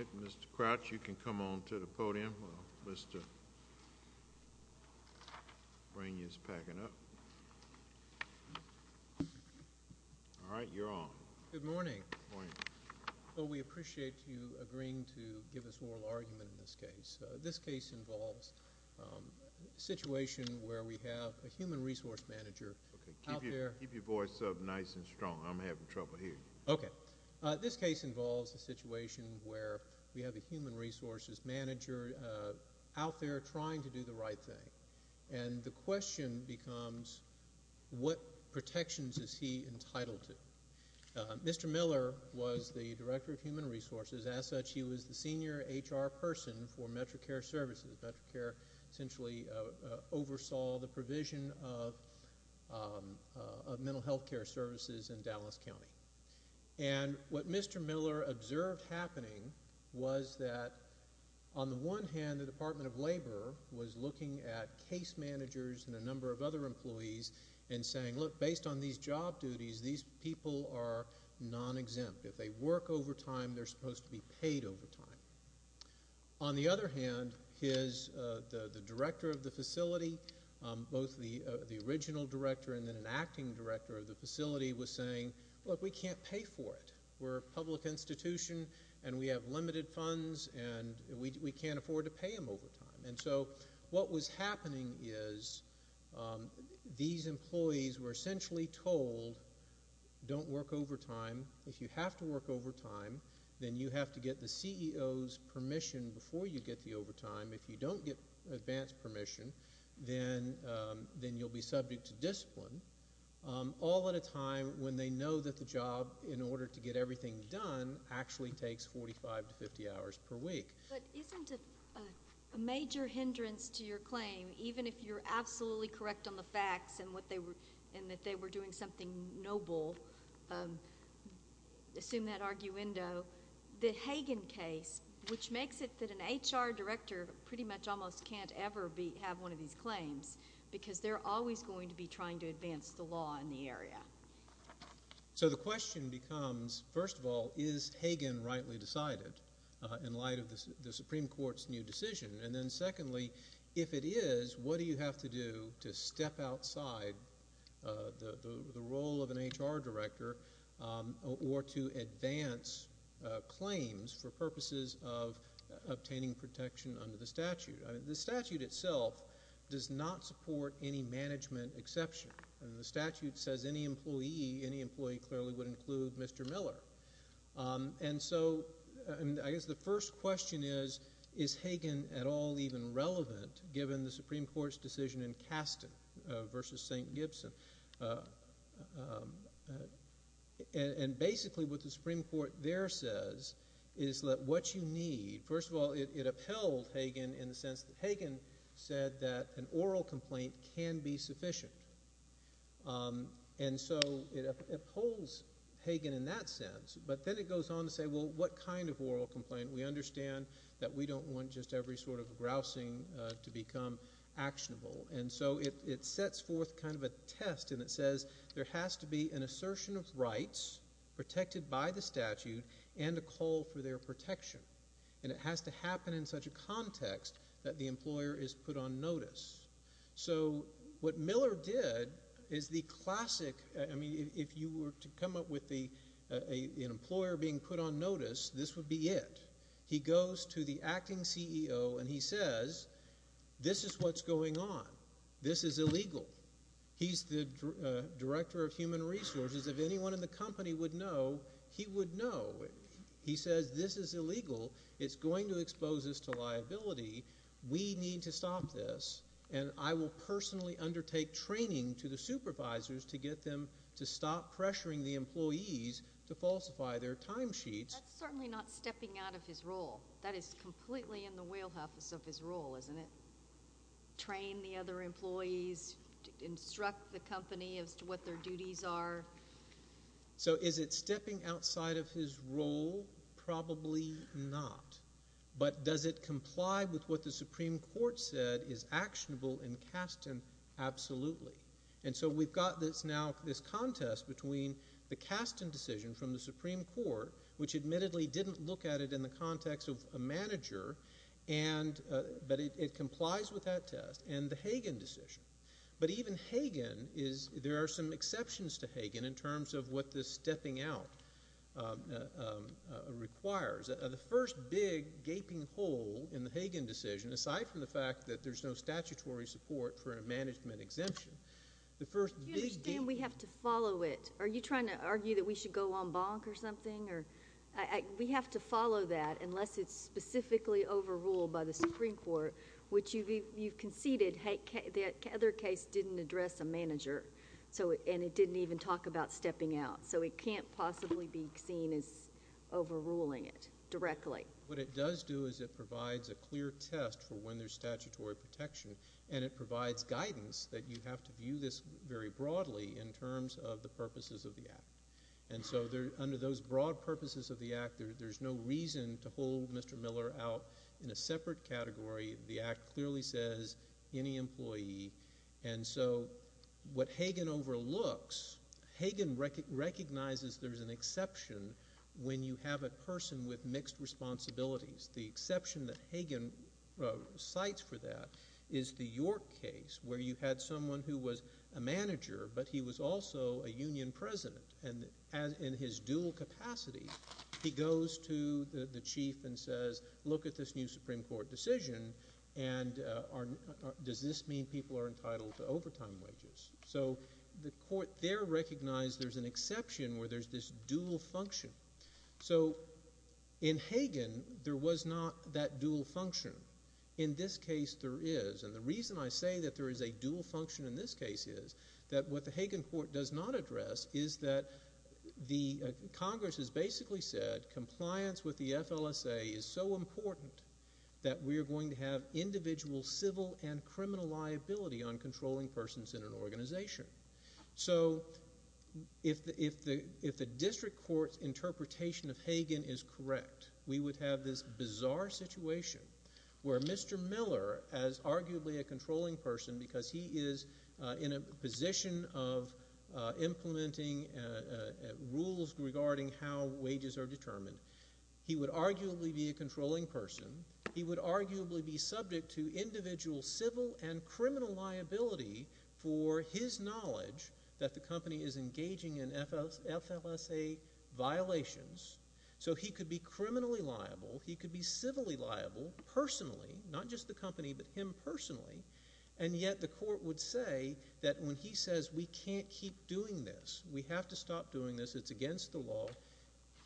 All right, Mr. Crouch, you can come on to the podium. Mr. Brainy is packing up. All right, you're on. Good morning. Well, we appreciate you agreeing to give us oral argument in this case. This case involves a situation where we have a human resource manager out there. Keep your voice up nice and strong. I'm having a situation where we have a human resources manager out there trying to do the right thing. And the question becomes, what protections is he entitled to? Mr. Miller was the director of human resources. As such, he was the senior HR person for Metrocare Services. Metrocare essentially oversaw the provision of what was observed happening was that, on the one hand, the Department of Labor was looking at case managers and a number of other employees and saying, look, based on these job duties, these people are non-exempt. If they work over time, they're supposed to be paid over time. On the other hand, his, the director of the facility, both the original director and then an acting director of the facility was saying, look, we can't pay for it. We're a public institution and we have limited funds and we can't afford to pay them over time. And so what was happening is these employees were essentially told, don't work overtime. If you have to work overtime, then you have to get the CEO's permission before you get the overtime. If you don't get advance permission, then then you'll be subject to discipline, all at a time when they know that the job, in terms of getting everything done, actually takes 45 to 50 hours per week. But isn't a major hindrance to your claim, even if you're absolutely correct on the facts and that they were doing something noble, assume that arguendo, the Hagen case, which makes it that an HR director pretty much almost can't ever have one of these claims, because they're always going to be trying to advance the law in the area? So the question becomes, first of all, is Hagen rightly decided in light of the Supreme Court's new decision? And then secondly, if it is, what do you have to do to step outside the role of an HR director or to advance claims for purposes of obtaining protection under the statute? I mean, the statute itself does not support any management exception. I mean, the statute says any employee, any employee clearly would include Mr. Miller. And so, I guess the first question is, is Hagen at all even relevant, given the Supreme Court's decision in Caston versus St. Gibson? And basically, what the Supreme Court there says is that what you need, first of all, it upheld Hagen in the sense that Hagen said that an oral complaint can be sufficient. And so, it upholds Hagen in that sense, but then it goes on to say, well, what kind of oral complaint? We understand that we don't want just every sort of grousing to become actionable. And so, it sets forth kind of a test, and it says there has to be an assertion of rights protected by the statute and a call for their protection. And it has to happen in such a context that the employer is put on notice. So, what Miller did is the classic, I mean, if you were to come up with an employer being put on notice, this would be it. He goes to the acting CEO, and he says, this is what's going on. This is illegal. He's the Director of Human Resources. If anyone in the company would know, he would know. He says, this is illegal. It's going to expose us to liability. We need to stop this, and I will personally undertake training to the supervisors to get them to stop pressuring the employees to falsify their timesheets. That's certainly not stepping out of his role. That is completely in the wheelhouse of his role, isn't it? Train the other employees, instruct the company as to what their duties are. So, is it stepping outside of his role? Probably not. But does it comply with what the Supreme Court said is actionable in Kasten? Absolutely. And so, we've got this now, this contest between the Kasten decision from the manager, but it complies with that test, and the Hagen decision. But even Hagen is, there are some exceptions to Hagen in terms of what this stepping out requires. The first big gaping hole in the Hagen decision, aside from the fact that there's no statutory support for a management exemption, the first big deal— Do you understand we have to follow it? Are you trying to argue that we should go on bonk or something? We have to follow that unless it's specifically overruled by the Supreme Court, which you've conceded the other case didn't address a manager, and it didn't even talk about stepping out. So, it can't possibly be seen as overruling it directly. What it does do is it provides a clear test for when there's statutory protection, and it provides guidance that you have to view this very broadly in terms of the purposes of the Act. And so, under those broad purposes of the Act, there's no reason to hold Mr. Miller out in a separate category. The Act clearly says, any employee. And so, what Hagen overlooks, Hagen recognizes there's an exception when you have a person with mixed responsibilities. The exception that Hagen cites for that is the York case, where you had someone who was a manager, but he was also a union president. And in his dual capacity, he goes to the chief and says, look at this new Supreme Court decision, and does this mean people are entitled to overtime wages? So, the court there recognized there's an exception where there's this dual function. So, in Hagen, there was not that dual function. In this case, there is. And the reason I say that there is a dual function in this case is that what the Hagen court does not address is that the Congress has basically said, compliance with the FLSA is so important that we're going to have individual civil and criminal liability on controlling persons in an organization. So, if the district court's interpretation of Hagen is correct, we would have this bizarre situation, where Mr. Miller, as arguably a controlling person, because he is in a position of implementing rules regarding how wages are determined, he would arguably be a controlling person. He would arguably be subject to individual civil and criminal liability for his knowledge that the company is engaging in FLSA violations. So, he could be criminally liable. He could be civilly liable, personally, not just the company, but him personally. And yet, the court would say that when he says, we can't keep doing this, we have to stop doing this, it's against the law,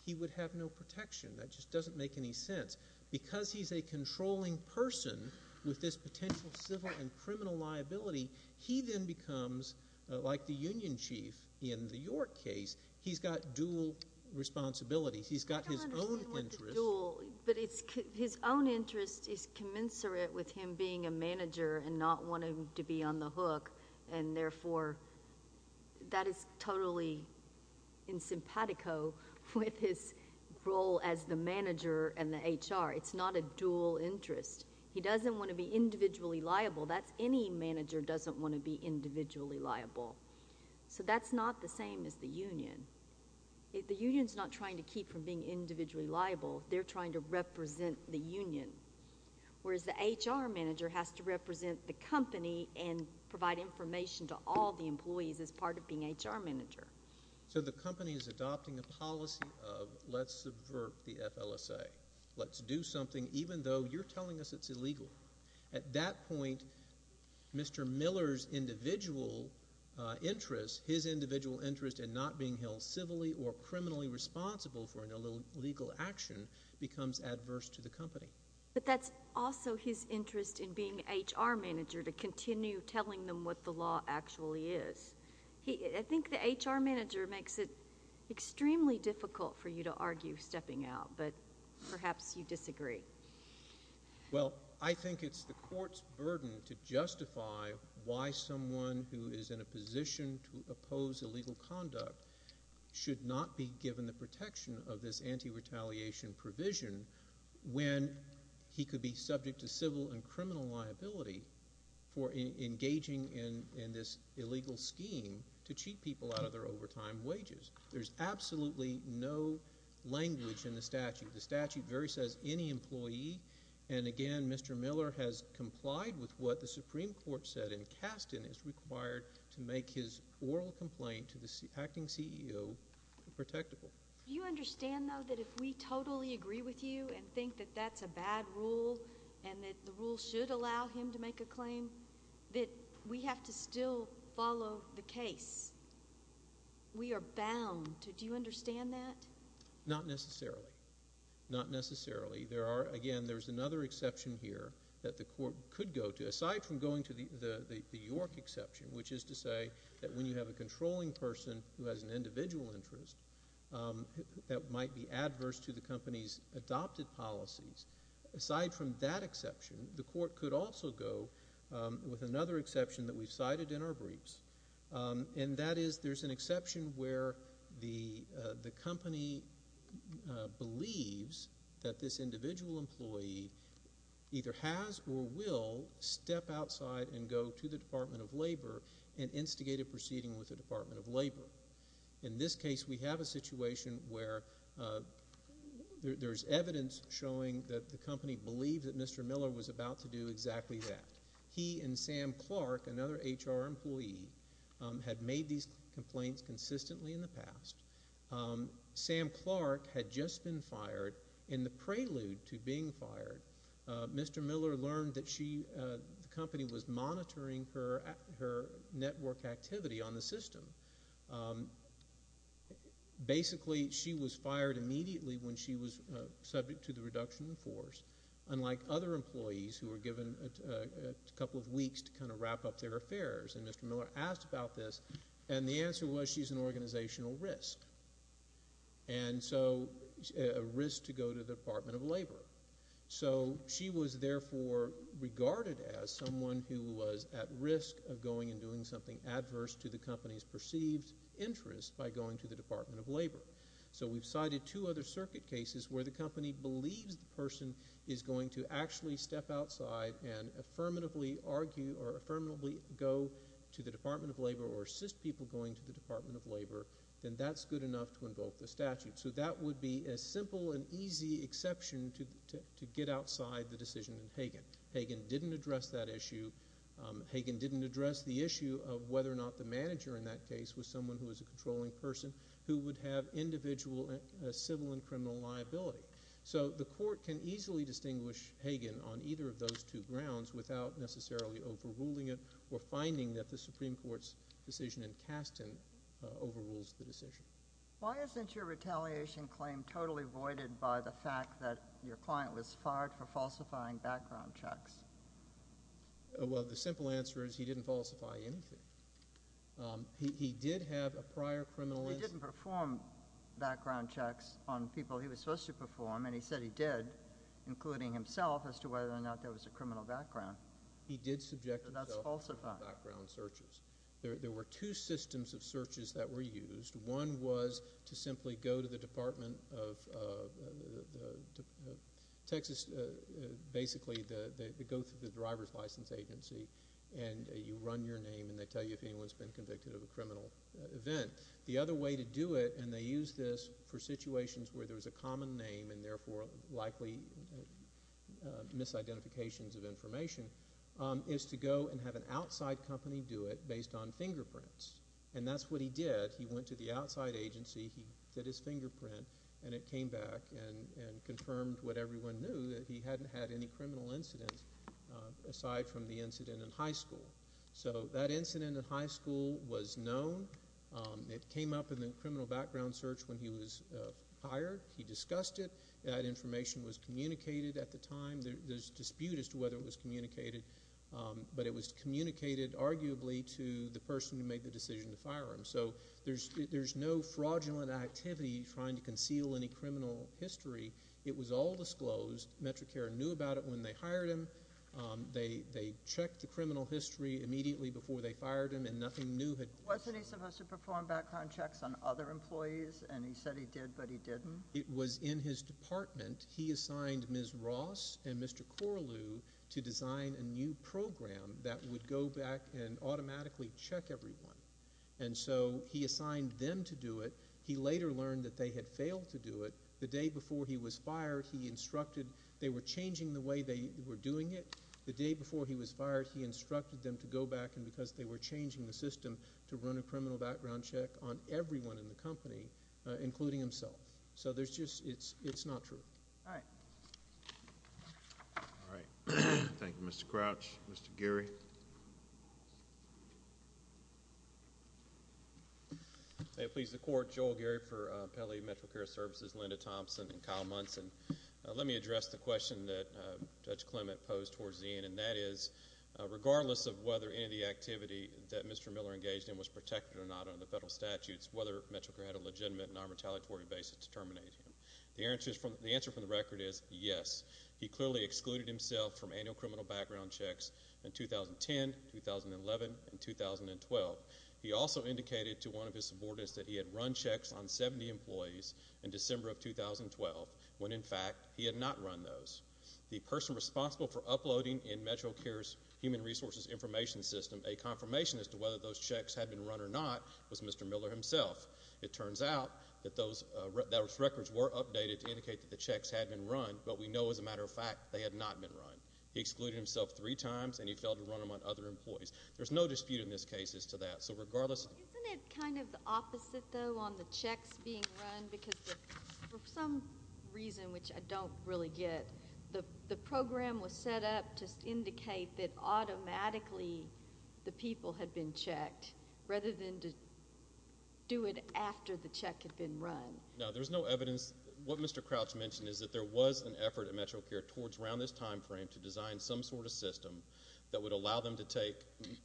he would have no protection. That just doesn't make any sense. Because he's a controlling person with this potential civil and criminal liability, he then becomes, like the union chief in the York case, he's got dual responsibilities. He's got his own interests. Dual. But his own interest is commensurate with him being a manager and not wanting to be on the hook, and therefore, that is totally insimpatico with his role as the manager and the HR. It's not a dual interest. He doesn't want to be individually liable. That's—any manager doesn't want to be individually liable. So, that's not the same as the union. The union is liable. They're trying to represent the union, whereas the HR manager has to represent the company and provide information to all the employees as part of being HR manager. So, the company is adopting a policy of, let's subvert the FLSA. Let's do something, even though you're telling us it's illegal. At that point, Mr. Miller's individual interest, his individual interest in not being held civilly or criminally responsible for an illegal action becomes adverse to the company. But that's also his interest in being HR manager, to continue telling them what the law actually is. I think the HR manager makes it extremely difficult for you to argue stepping out, but perhaps you disagree. Well, I think it's the court's burden to justify why someone who is in a position to oppose illegal conduct should not be given the protection of this anti-retaliation provision when he could be subject to civil and criminal liability for engaging in this illegal scheme to cheat people out of their overtime wages. There's absolutely no language in the statute. The statute very says any employee, and again, Mr. Miller has complied with what the Supreme Court has said, that any oral complaint to the acting CEO is protectable. Do you understand, though, that if we totally agree with you and think that that's a bad rule and that the rule should allow him to make a claim, that we have to still follow the case? We are bound to. Do you understand that? Not necessarily. Not necessarily. Again, there's another exception here that the court could go to, aside from going to the York exception, which is to say that when you have a controlling person who has an individual interest that might be adverse to the company's adopted policies, aside from that exception, the court could also go with another exception that we've cited in our briefs, and that is there's an exception where the company believes that this individual employee either has or will step outside and go to the Department of Labor and instigate a proceeding with the Department of Labor. In this case, we have a situation where there's evidence showing that the company believed that Mr. Miller was about to do exactly that. He and Sam Clark, another HR employee, had made these complaints consistently in the past. Sam Clark had just been fired. In the prelude to being fired, Mr. Miller learned that the company was monitoring her network activity on the system. Basically, she was fired immediately when she was subject to the reduction in force, unlike other employees who were given a couple of weeks to kind of wrap up their affairs. And Mr. Miller asked about this, and the answer was she's an organizational risk, and so a risk to go to the Department of Labor. So she was therefore regarded as someone who was at risk of going and doing something adverse to the company's perceived interest by going to the Department of Labor. So we've cited two other circuit cases where the company believes the person is going to the Department of Labor or assist people going to the Department of Labor, then that's good enough to invoke the statute. So that would be a simple and easy exception to get outside the decision in Hagan. Hagan didn't address that issue. Hagan didn't address the issue of whether or not the manager in that case was someone who was a controlling person who would have individual civil and criminal liability. So the court can easily distinguish Hagan on either of those two grounds without necessarily overruling it or finding that the Supreme Court's decision in Kasten overrules the decision. Why isn't your retaliation claim totally voided by the fact that your client was fired for falsifying background checks? Well, the simple answer is he didn't falsify anything. He did have a prior criminal incident. He didn't perform background checks on people he was supposed to perform, and he said he did, including himself, as to whether or not there was a criminal background. He did subject himself to background searches. There were two systems of searches that were used. One was to simply go to the Department of Texas, basically go through the driver's license agency, and you run your name, and they tell you if anyone's been convicted of a criminal event. The other way to do it, and they used this for situations where there was a criminal incident, is to go and have an outside company do it based on fingerprints, and that's what he did. He went to the outside agency, he did his fingerprint, and it came back and confirmed what everyone knew, that he hadn't had any criminal incidents aside from the incident in high school. So that incident in high school was known. It came up in the criminal background search when he was hired. He discussed it. That information was communicated at the time. There's dispute as to whether it was communicated, but it was communicated, arguably, to the person who made the decision to fire him. So there's no fraudulent activity trying to conceal any criminal history. It was all disclosed. Metricare knew about it when they hired him. They checked the criminal history immediately before they fired him, and nothing new had come out. Wasn't he supposed to perform background checks on other employees, and he said he did, but he didn't? It was in his department. He assigned Ms. Ross and Mr. Corlew to design a new program that would go back and automatically check everyone, and so he assigned them to do it. He later learned that they had failed to do it. The day before he was fired, he instructed – they were changing the way they were doing it. The day before he was fired, he instructed them to go back, and because they were changing the system, to run a criminal background check on everyone in the company, including himself. So there's just – it's not true. All right, thank you, Mr. Crouch. Mr. Geary? May it please the Court, Joel Geary for Pele Metricare Services, Linda Thompson, and Kyle Munson. Let me address the question that Judge Clement posed towards the end, and that is, regardless of whether any of the activity that Mr. Miller engaged in was protected or not under the federal statutes, whether Metricare had a legitimate and non-retaliatory basis to terminate him. The answer from the record is yes. He clearly excluded himself from annual criminal background checks in 2010, 2011, and 2012. He also indicated to one of his subordinates that he had run checks on 70 employees in December of 2012, when, in fact, he had not run those. The person responsible for uploading in Metricare's Human Resources Information System a confirmation as to whether those checks had been run or not was Mr. Miller himself. It turns out that those records were updated to indicate that the checks had been run, but we know, as a matter of fact, they had not been run. He excluded himself three times, and he failed to run them on other employees. There's no dispute in this case as to that. So regardless – Isn't it kind of the opposite, though, on the checks being run? Because for some reason, which I don't really get, the program was set up to indicate that automatically the people had been checked, rather than to do it after the check had been run. No, there's no evidence. What Mr. Crouch mentioned is that there was an effort at Metricare towards around this time frame to design some sort of system that would allow them to take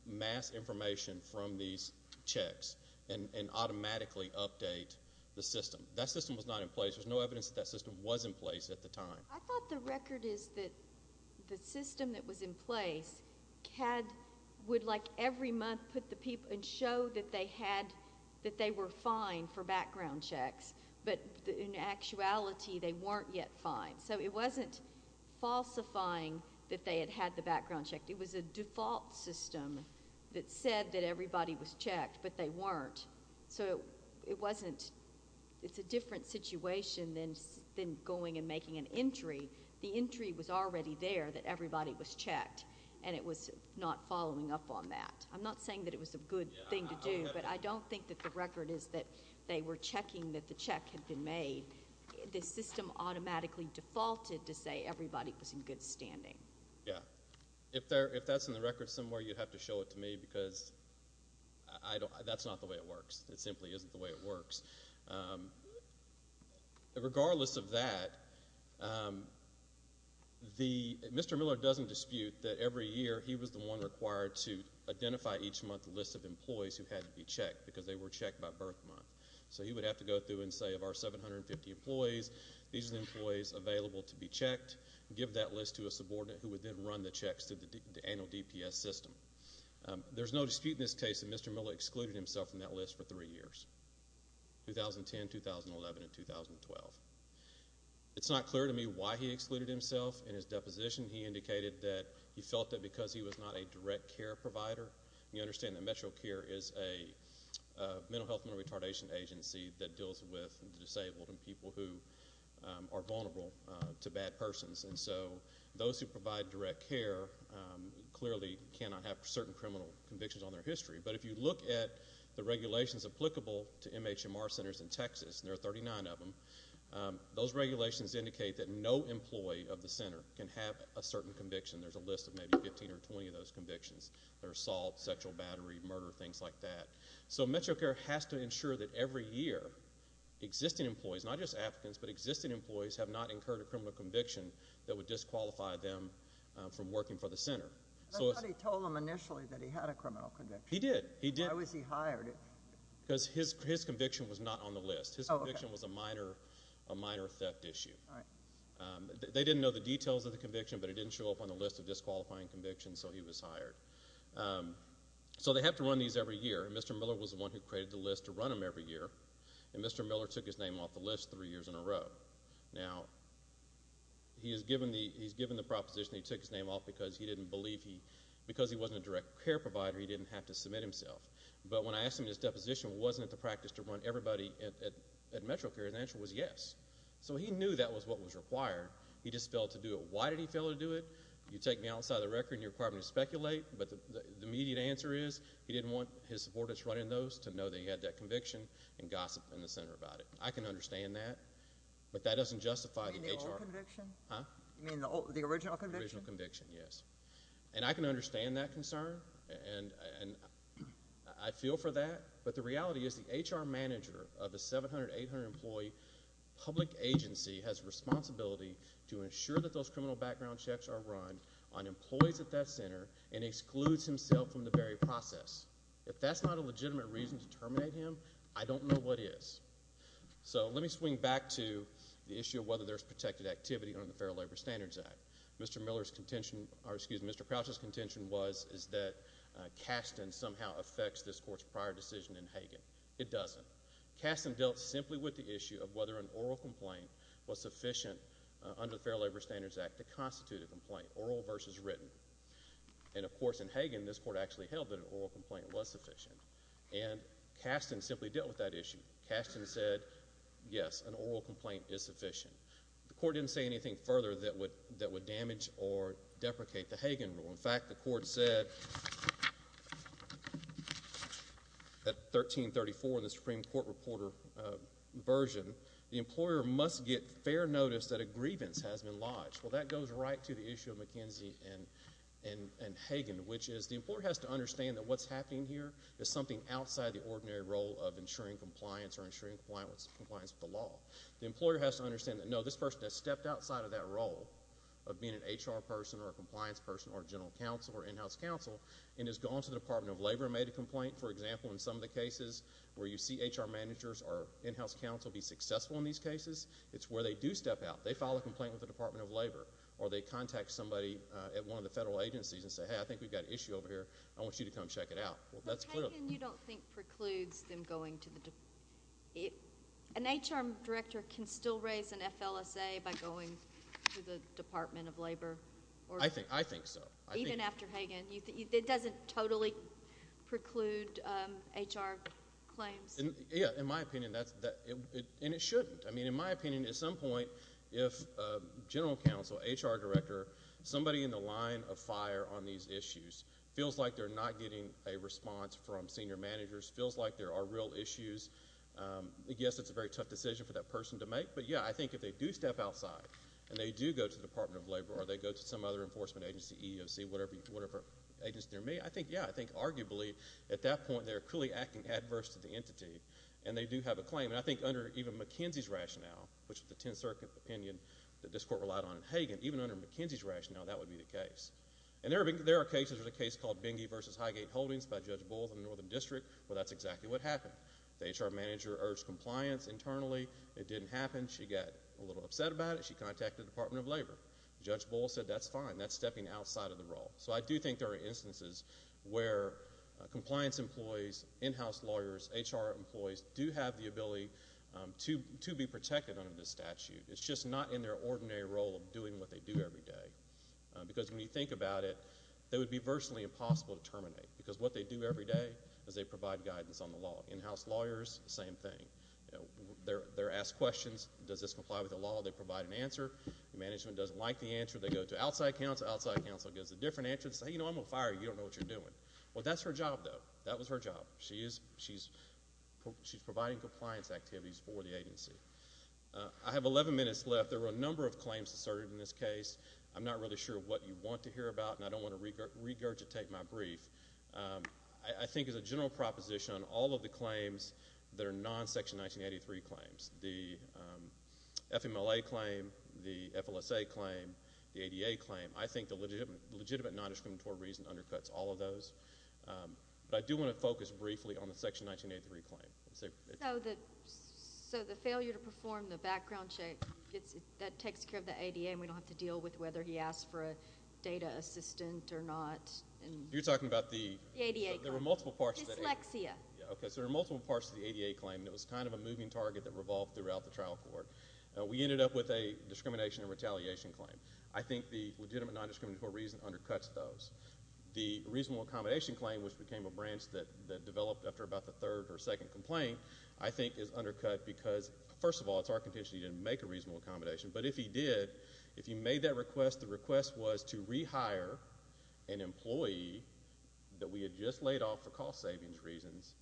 mass information from these checks and automatically update the system. That system was not in place at the time. I thought the record is that the system that was in place would, like, every month put the people and show that they were fine for background checks, but in actuality they weren't yet fine. So it wasn't falsifying that they had had the background checked. It was a default system that said that everybody was checked, but they weren't. So it's a different situation than going and making an entry. The entry was already there that everybody was checked, and it was not following up on that. I'm not saying that it was a good thing to do, but I don't think that the record is that they were checking that the check had been made. The system automatically defaulted to say everybody was in good standing. Yeah. If that's in the record somewhere, you'd have to show it to me, because that's not the way it works. It simply isn't the way it works. Regardless of that, Mr. Miller doesn't dispute that every year he was the one required to identify each month a list of employees who had to be checked, because they were checked by birth month. So he would have to go through and say, of our 750 employees, these are the employees available to be checked, give that list to a subordinate who would then run the checks through the annual DPS system. There's no dispute in this case that Mr. Miller excluded himself from that list for three years, 2010, 2011, and 2012. It's not clear to me why he excluded himself. In his deposition, he indicated that he felt that because he was not a direct care provider. You understand that MetroCare is a mental health and retardation agency that deals with the disabled and people who are vulnerable to bad persons. And so those who provide direct care clearly cannot have certain criminal convictions on their history. But if you look at the regulations applicable to MHMR centers in Texas, there are 39 of them, those regulations indicate that no employee of the center can have a certain conviction. There's a list of maybe 15 or 20 of those convictions. There's assault, sexual battery, murder, things like that. So MetroCare has to ensure that every year, existing employees, not just Africans, but existing employees have not incurred a criminal conviction that would disqualify them from working for the center. But somebody told him initially that he had a criminal conviction. He did. Why was he hired? Because his conviction was not on the list. His conviction was a minor theft issue. They didn't know the details of the conviction, but it didn't show up on the list of disqualifying convictions, so he was hired. So they have to run these every year. Mr. Miller was the one who created the list to run them every year, and Mr. Miller took his name off the proposition. He took his name off because he didn't believe he, because he wasn't a direct care provider, he didn't have to submit himself. But when I asked him if his deposition wasn't at the practice to run everybody at MetroCare, his answer was yes. So he knew that was what was required. He just failed to do it. Why did he fail to do it? You take me outside of the record and you require me to speculate, but the immediate answer is he didn't want his supporters running those to know that he had that conviction and gossip in the center about it. I can understand that, but that doesn't justify the HR. You mean the old conviction? Huh? You mean the original conviction? The original conviction, yes. And I can understand that concern, and I feel for that, but the reality is the HR manager of the 700-800 employee public agency has responsibility to ensure that those criminal background checks are run on employees at that center and excludes himself from the very process. If that's not a legitimate reason to terminate him, I don't know what is. So let me swing back to the issue of whether there's protected activity under the Fair Labor Standards Act. Mr. Crouch's contention was that Kasten somehow affects this court's prior decision in Hagen. It doesn't. Kasten dealt simply with the issue of whether an oral complaint was sufficient under the Fair Labor Standards Act to constitute a complaint, oral versus written. And of course, in Hagen, this court actually held that an oral complaint was sufficient, and Kasten simply dealt with that issue. Kasten said, yes, an oral complaint is sufficient. The court didn't say anything further that would damage or deprecate the Hagen rule. In fact, the court said at 1334 in the Supreme Court Reporter version, the employer must get fair notice that a grievance has been lodged. Well, that goes right to the issue of McKenzie and Hagen, which is the employer has to understand that what's happening here is something outside the ordinary role of ensuring compliance or ensuring compliance with the law. The employer has to understand that, no, this person has stepped outside of that role of being an HR person or a compliance person or general counsel or in-house counsel and has gone to the Department of Labor and made a complaint. For example, in some of the cases where you see HR managers or in-house counsel be successful in these cases, it's where they do step out. They file a complaint with the Department of Labor, or they contact somebody at one of the federal agencies and say, hey, I think we've got an issue over here. I want you to come check it out. Well, that's real. But Hagen, you don't think, precludes them going to the, an HR director can still raise an FLSA by going to the Department of Labor? I think so. Even after Hagen, it doesn't totally preclude HR claims? Yeah, in my opinion, that's, and it shouldn't. I mean, in my opinion, at some point, if a general counsel, HR director, somebody in the line of fire on these issues feels like they're not getting a response from senior managers, feels like there are real issues, I guess it's a very tough decision for that person to make. But yeah, I think if they do step outside and they do go to the Department of Labor or they go to some other enforcement agency, EEOC, whatever agency they're in, I think, yeah, I think arguably, at that point, they're clearly acting adverse to the entity, and they do have a claim. And I think under even McKenzie's rationale, which is the Tenth Circuit opinion that this Court relied on in Hagen, even under McKenzie's rationale, that would be the case. And there are cases, there's a case called Benge v. Highgate Holdings by Judge Bowles in the Northern District, where that's exactly what happened. The HR manager urged compliance internally. It didn't happen. She got a little upset about it. She contacted the Department of Labor. Judge Bowles said, that's fine. That's stepping outside of the role. So I do think there are instances where compliance employees, in-house lawyers, HR employees do have the ability to be protected under this statute. It's just not in their ordinary role of doing what they do every day. Because when you think about it, it would be virtually impossible to terminate. Because what they do every day is they provide guidance on the law. In-house lawyers, same thing. They're asked questions. Does this comply with the law? They provide an answer. Management doesn't like the answer. They go to outside counsel. Outside counsel gives a different answer. They say, you know, I'm going to fire you. You don't know what you're doing. Well, that's her job, though. That was her job. She's providing compliance activities for the agency. I have 11 minutes left. There were a number of claims asserted in this case. I'm not really sure what you want to hear about, and I don't want to regurgitate my brief. I think as a general proposition, all of the claims that are non-Section 1983 claims, the FMLA claim, the FLSA claim, the ADA claim, I think the legitimate non-discriminatory reason undercuts all of those. But I do want to focus briefly on the Section 1983 claim. So the failure to perform the background check, that takes care of the ADA, and we don't have to deal with whether he asked for a data assistant or not. You're talking about the ADA. There were multiple parts to the ADA claim, and it was kind of a moving target that revolved throughout the trial court. We ended up with a discrimination and retaliation claim. I think the legitimate non-discriminatory reason undercuts those. The reasonable accommodation claim, which became a branch that developed after about the third or second complaint, I think is undercut because, first of all, it's our contention that he didn't make a reasonable accommodation. But if he did, if he made that request, the request was to rehire an employee that we had just laid off for cost-saving reasons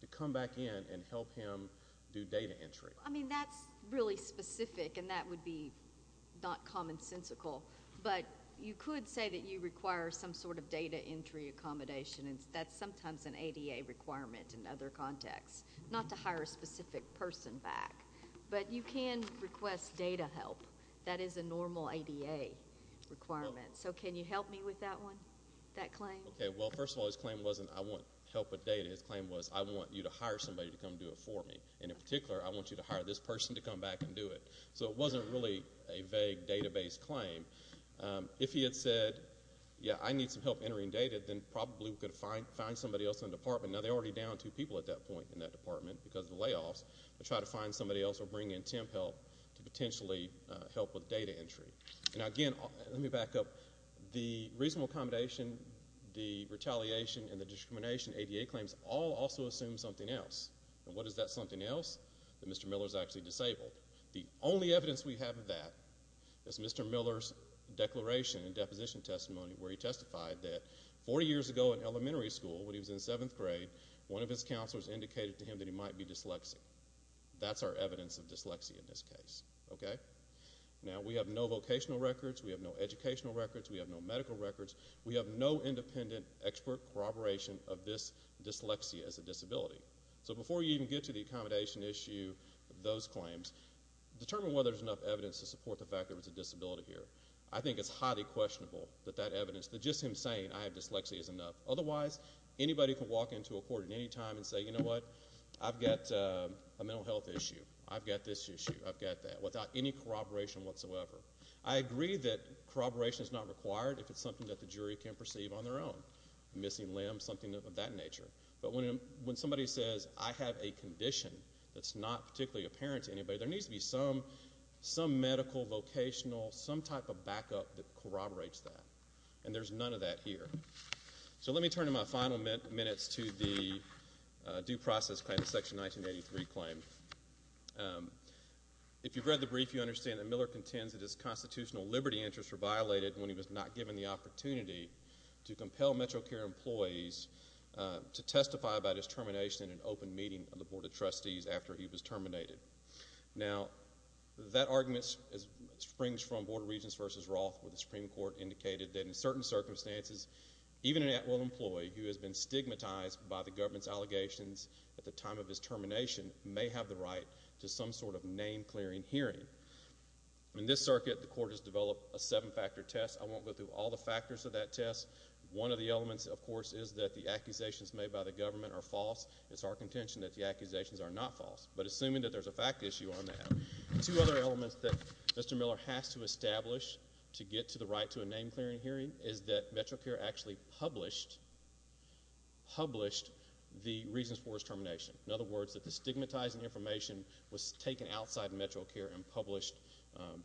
to come back in and help him do data entry. I mean, that's really specific, and that would be not commonsensical. But you could say that you require some sort of data entry accommodation, and that's sometimes an ADA requirement in the law. But you can request data help. That is a normal ADA requirement. So can you help me with that one, that claim? Okay. Well, first of all, his claim wasn't, I want help with data. His claim was, I want you to hire somebody to come do it for me. And in particular, I want you to hire this person to come back and do it. So it wasn't really a vague database claim. If he had said, yeah, I need some help entering data, then probably we could find somebody else in the department. Now, they're already down two people at that point in that department because of the layoffs to try to find somebody else or bring in temp help to potentially help with data entry. Now, again, let me back up. The reasonable accommodation, the retaliation, and the discrimination ADA claims all also assume something else. And what is that something else? That Mr. Miller is actually disabled. The only evidence we have of that is Mr. Miller's declaration and deposition testimony where he testified that 40 years ago in elementary school when he was in seventh grade, one of his counselors indicated to him that he might be dyslexic. That's our evidence of dyslexia in this case. Okay? Now, we have no vocational records. We have no educational records. We have no medical records. We have no independent, expert corroboration of this dyslexia as a disability. So before you even get to the accommodation issue of those claims, determine whether there's enough evidence to support the fact that there was a disability here. I think it's highly questionable that that evidence, that just him saying, I have dyslexia, is enough. Otherwise, anybody can walk into a court at any time and say, you know what? I've got a mental health issue. I've got this issue. I've got that, without any corroboration whatsoever. I agree that corroboration is not required if it's something that the jury can perceive on their own. Missing limbs, something of that nature. But when somebody says, I have a condition that's not particularly apparent to anybody, there needs to be some medical, vocational, some type of backup that corroborates that. And there's none of that here. So let me turn to my final minutes to the due process claim, Section 1983 claim. If you've read the brief, you understand that Miller contends that his constitutional liberty interests were violated when he was not given the opportunity to compel MetroCare employees to testify about his termination in an open meeting of the Board of Trustees after he was terminated. Now, that argument springs from Board of Regents v. Roth, where the Supreme Court indicated that in certain circumstances, even an at-will employee who has been stigmatized by the government's allegations at the time of his termination may have the right to some sort of name-clearing hearing. In this circuit, the Court has developed a seven-factor test. I won't go through all the factors of that test. One of the elements, of course, is that the accusations made by the government are false. It's our contention that the accusations are not false. But assuming that there's a fact issue on that, two other elements that Miller has to establish to get to the right to a name-clearing hearing is that MetroCare actually published the reasons for his termination. In other words, that the stigmatizing information was taken outside of MetroCare and published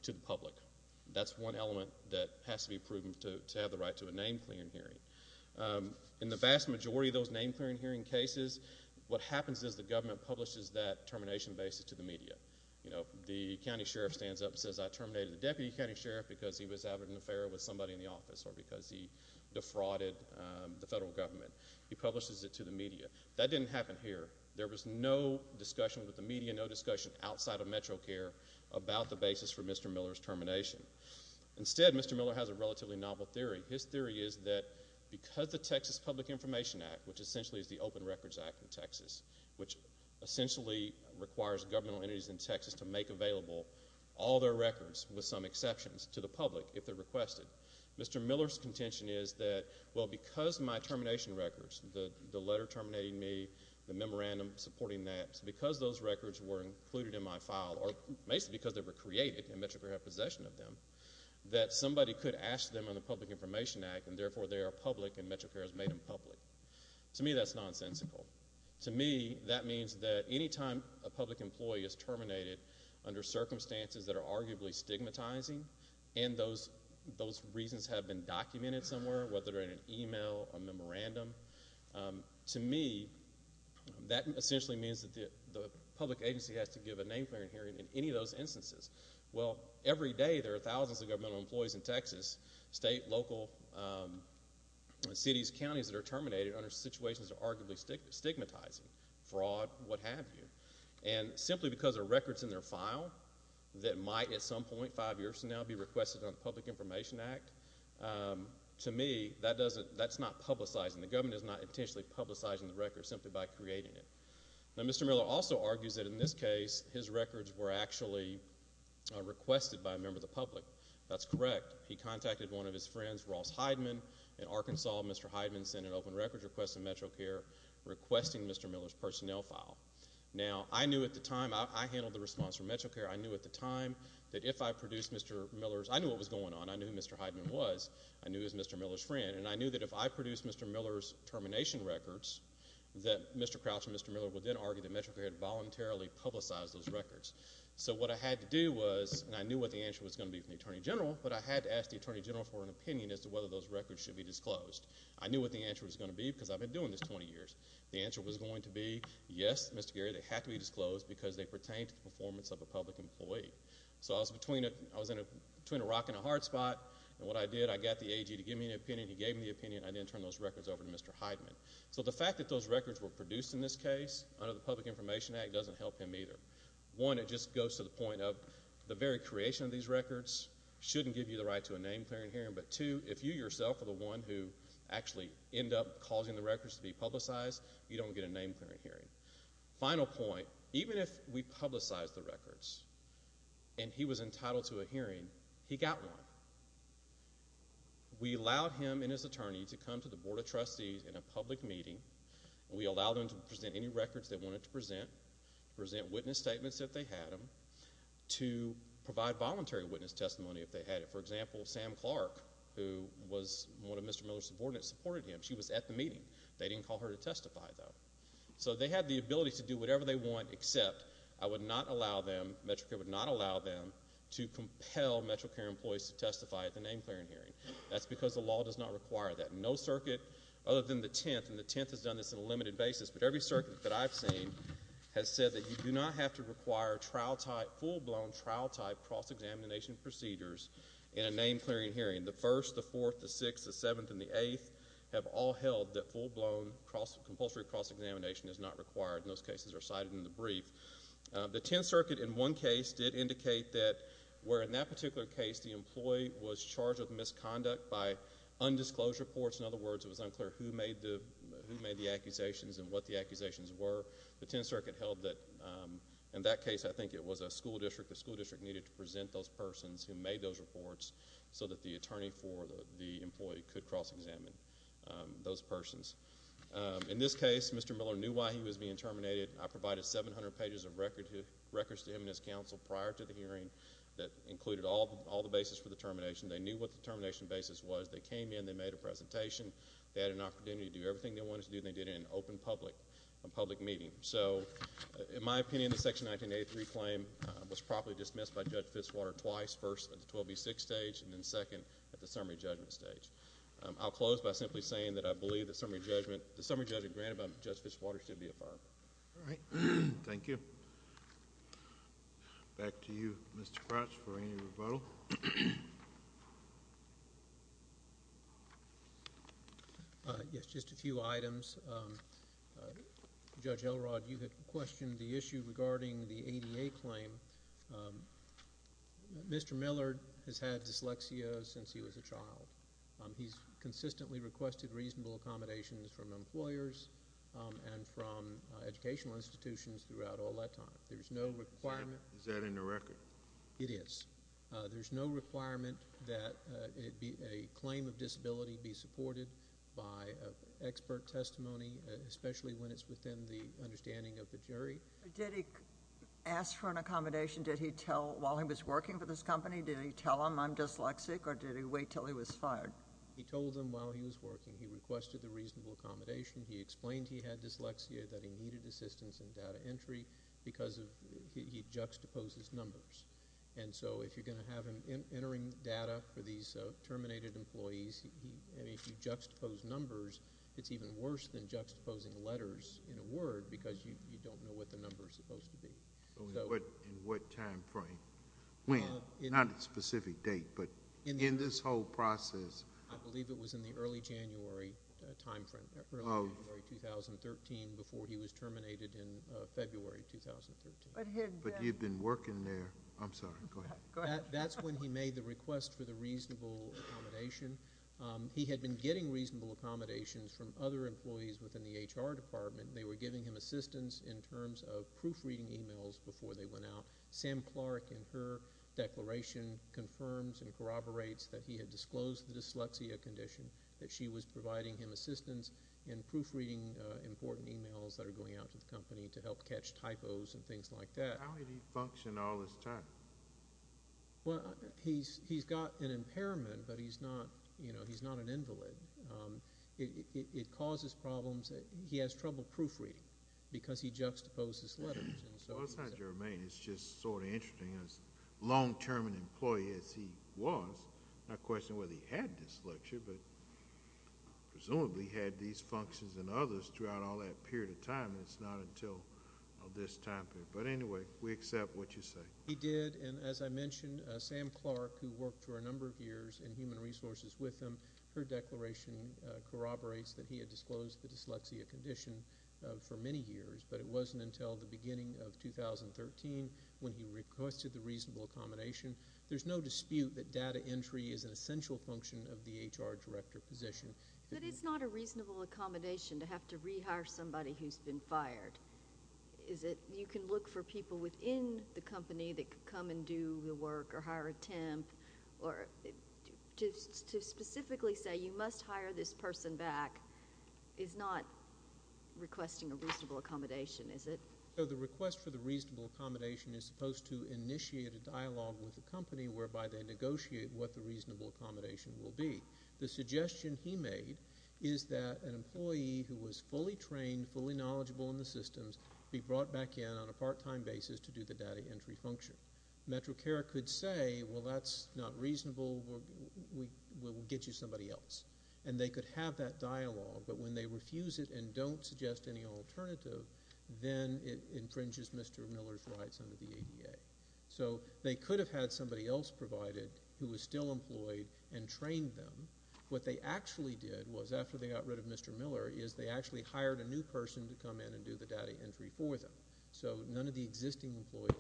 to the public. That's one element that has to be proven to have the right to a name-clearing hearing. In the vast majority of those name-clearing hearing cases, what happens is the government publishes that termination basis to the media. You know, the county sheriff stands up and says, I terminated the deputy county sheriff because he was having an affair with somebody in the office or because he defrauded the federal government. He publishes it to the media. That didn't happen here. There was no discussion with the media, no discussion outside of MetroCare about the basis for Mr. Miller's termination. Instead, Mr. Miller has a relatively novel theory. His theory is that because the Texas Public Information Act, which essentially is the Open Records Act in Texas, which essentially requires governmental entities in Texas to make available all their records, with some exceptions, to the public if they're requested, Mr. Miller's contention is that, well, because my termination records, the letter terminating me, the memorandum supporting that, because those records were included in my file, or basically because they were created and MetroCare had possession of them, that somebody could ask them in the Public Information Act, and therefore they are public and MetroCare has made them public. To me, that's nonsensical. To me, that means that any time a public employee is terminated under circumstances that are arguably stigmatizing, and those reasons have been documented somewhere, whether they're in an email, a memorandum, to me, that essentially means that the public agency has to give a name-clearing hearing in any of those instances. Well, every day, there are thousands of governmental employees in Texas, state, local, cities, counties that are terminated under situations that are arguably stigmatizing, fraud, what have you, and simply because there are records in their file that might, at some point, five years from now, be requested under the Public Information Act, to me, that's not publicizing. The government is not intentionally publicizing the records simply by creating it. Now, Mr. Miller also argues that, in this case, his records were actually requested by a member of the public. That's correct. He contacted one of his friends, Ross Heidman, in Arkansas. Mr. Heidman sent an open record requesting MetroCare, requesting Mr. Miller's personnel file. Now, I knew at the time, I handled the response from MetroCare, I knew at the time that if I produced Mr. Miller's, I knew what was going on, I knew who Mr. Heidman was, I knew he was Mr. Miller's friend, and I knew that if I produced Mr. Miller's termination records, that Mr. Crouch and Mr. Miller would then argue that MetroCare had voluntarily publicized those records. So, what I had to do was, and I knew what the answer was going to be from the Attorney General, but I had to ask the Attorney General for an opinion as to whether those records should be disclosed. I knew what the answer was going to be because I've been doing this 20 years. The answer was going to be, yes, Mr. Gary, they have to be disclosed because they pertain to the performance of a public employee. So, I was between a rock and a hard spot, and what I did, I got the AG to give me an opinion, he gave me an opinion, I then turned those records over to Mr. Heidman. So, the fact that those records were produced in this case under the Public Information Act doesn't help him either. One, it just goes to the point of the very creation of these records shouldn't give you the right to a name-clearing hearing, but two, if you yourself are the one who actually ended up causing the records to be publicized, you don't get a name-clearing hearing. Final point, even if we publicized the records, and he was entitled to a hearing, he got one. We allowed him and his attorney to come to the Board of Trustees in a public meeting, and we allowed them to present any records they wanted to present, present witness statements if they had them, to provide voluntary witness testimony if they had it. For example, Sam Clark, who was one of Mr. Miller's subordinates, supported him. She was at the meeting. They didn't call her to testify, though. So, they had the ability to do whatever they want, except I would not allow them, MetroCare would not allow them to compel MetroCare employees to testify at the name-clearing hearing. That's because the law does not require that. No circuit other than the Tenth, and the Tenth has done this on a limited basis, but every circuit that I've seen has said that you do not have to require trial-type, full-blown trial-type cross-examination procedures in a name-clearing hearing. The First, the Fourth, the Sixth, the Seventh, and the Eighth have all held that full-blown compulsory cross-examination is not required, and those cases are cited in the brief. The Tenth Circuit, in one case, did indicate that where in that particular case the employee was charged with misconduct by undisclosed reports. In other words, it made the accusations, and what the accusations were. The Tenth Circuit held that, in that case, I think it was a school district. The school district needed to present those persons who made those reports so that the attorney for the employee could cross-examine those persons. In this case, Mr. Miller knew why he was being terminated. I provided 700 pages of records to him and his counsel prior to the hearing that included all the basis for the termination. They knew what the termination basis was. They came in, they made a presentation, they had an opportunity to do everything they wanted to do, and they did it in an open public meeting. So, in my opinion, the Section 1983 claim was properly dismissed by Judge Fitzwater twice, first at the 12B6 stage and then second at the summary judgment stage. I'll close by simply saying that I believe the summary judgment granted by Judge Fitzwater should be affirmed. All right. Thank you. Back to you, Mr. Crouch, for any rebuttal. Yes, just a few items. Judge Elrod, you had questioned the issue regarding the ADA claim. Mr. Miller has had dyslexia since he was a child. He's consistently requested reasonable accommodations from employers and from educational institutions throughout all that time. There's no requirement Is that in the record? It is. There's no requirement that a claim of disability be supported by expert testimony, especially when it's within the understanding of the jury. Did he ask for an accommodation? Did he tell while he was working for this company? Did he tell them, I'm dyslexic, or did he wait until he was fired? He told them while he was working. He requested the reasonable accommodation. He explained he had dyslexia, that he needed assistance in data entry, because he juxtaposes numbers. If you're going to have him entering data for these terminated employees, and if you juxtapose numbers, it's even worse than juxtaposing letters in a word, because you don't know what the number is supposed to be. In what time frame? When? Not a specific date, but in this whole process. I believe it was in the early January time frame, early January 2013, before he was terminated in February 2013. But he had been working there. I'm sorry, go ahead. That's when he made the request for the reasonable accommodation. He had been getting reasonable accommodations from other employees within the HR department. They were giving him assistance in terms of proofreading emails before they went out. Sam Clark, in her declaration, confirms and corroborates that he had disclosed the dyslexia condition, that she was providing him assistance in proofreading important emails that are going out to the company to help catch typos and things like that. How did he function all this time? He's got an impairment, but he's not an invalid. It causes problems. He has trouble proofreading, because he juxtaposes letters. Well, it's not germane. It's just sort of interesting. As long-term an employee as he was, I'm not questioning whether he had dyslexia, but presumably he had these functions and others throughout all that period of time, and it's not until this time period. But anyway, we accept what you say. He did, and as I mentioned, Sam Clark, who worked for a number of years in human resources with him, her declaration corroborates that he had disclosed the dyslexia condition for many years, but it wasn't until the beginning of 2013 when he requested the reasonable accommodation. There's no dispute that data entry is an essential function of the HR director position. But it's not a reasonable accommodation to have to rehire somebody who's been fired. You can look for people within the company that could come and do the work or hire a person back is not requesting a reasonable accommodation, is it? So the request for the reasonable accommodation is supposed to initiate a dialogue with the company whereby they negotiate what the reasonable accommodation will be. The suggestion he made is that an employee who was fully trained, fully knowledgeable in the systems be brought back in on a part-time basis to do the data entry function. MetroCare could say, well, that's not reasonable. We'll get you somebody else. And they could have that dialogue, but when they refuse it and don't suggest any alternative, then it infringes Mr. Miller's rights under the ADA. So they could have had somebody else provided who was still employed and trained them. What they actually did was, after they got rid of Mr. Miller, is they actually hired a new person to come in and do the data entry for them. So none of the existing employees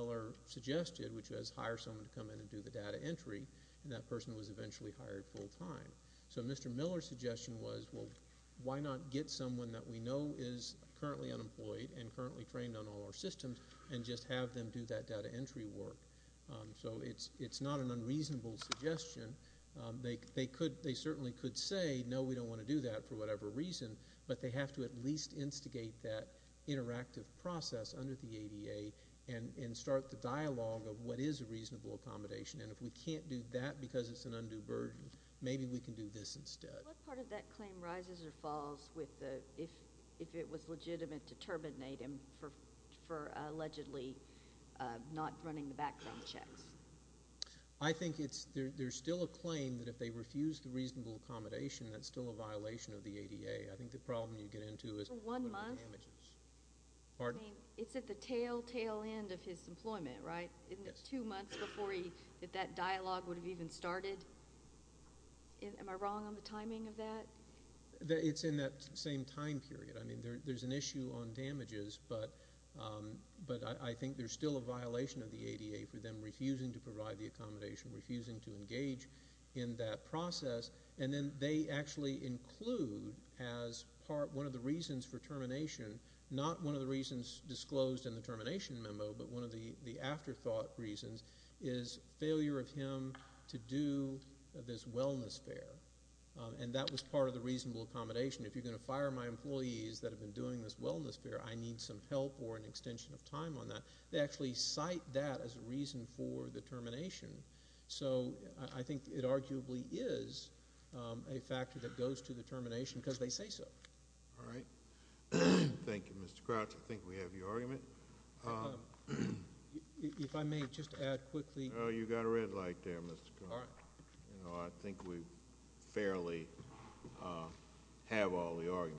were suggested, which was hire someone to come in and do the data entry, and that person was eventually hired full-time. So Mr. Miller's suggestion was, well, why not get someone that we know is currently unemployed and currently trained on all our systems and just have them do that data entry work? So it's not an unreasonable suggestion. They certainly could say, no, we don't want to do that for whatever reason, but they have to at least have a dialogue of what is a reasonable accommodation, and if we can't do that because it's an undue burden, maybe we can do this instead. What part of that claim rises or falls if it was legitimate to terminate him for allegedly not running the background checks? I think there's still a claim that if they refuse the reasonable accommodation, that's still a violation of the ADA. I think the problem you get into is For one month? Pardon? I mean, it's at the tail-end of his employment, right? Yes. Two months before that dialogue would have even started? Am I wrong on the timing of that? It's in that same time period. I mean, there's an issue on damages, but I think there's still a violation of the ADA for them refusing to provide the accommodation, refusing to engage in that process, and then they actually include as part one of the reasons for termination not one of the reasons disclosed in the termination memo, but one of the afterthought reasons is failure of him to do this wellness fair, and that was part of the reasonable accommodation. If you're going to fire my employees that have been doing this wellness fair, I need some help or an extension of time on that. They actually cite that as a reason for the termination, so I think it arguably is a factor that goes to the termination because they say so. All right. Thank you, Mr. Crouch. I think we have your argument. If I may just add quickly Oh, you got a red light there, Mr. Crouch. All right. I think we fairly have all the arguments.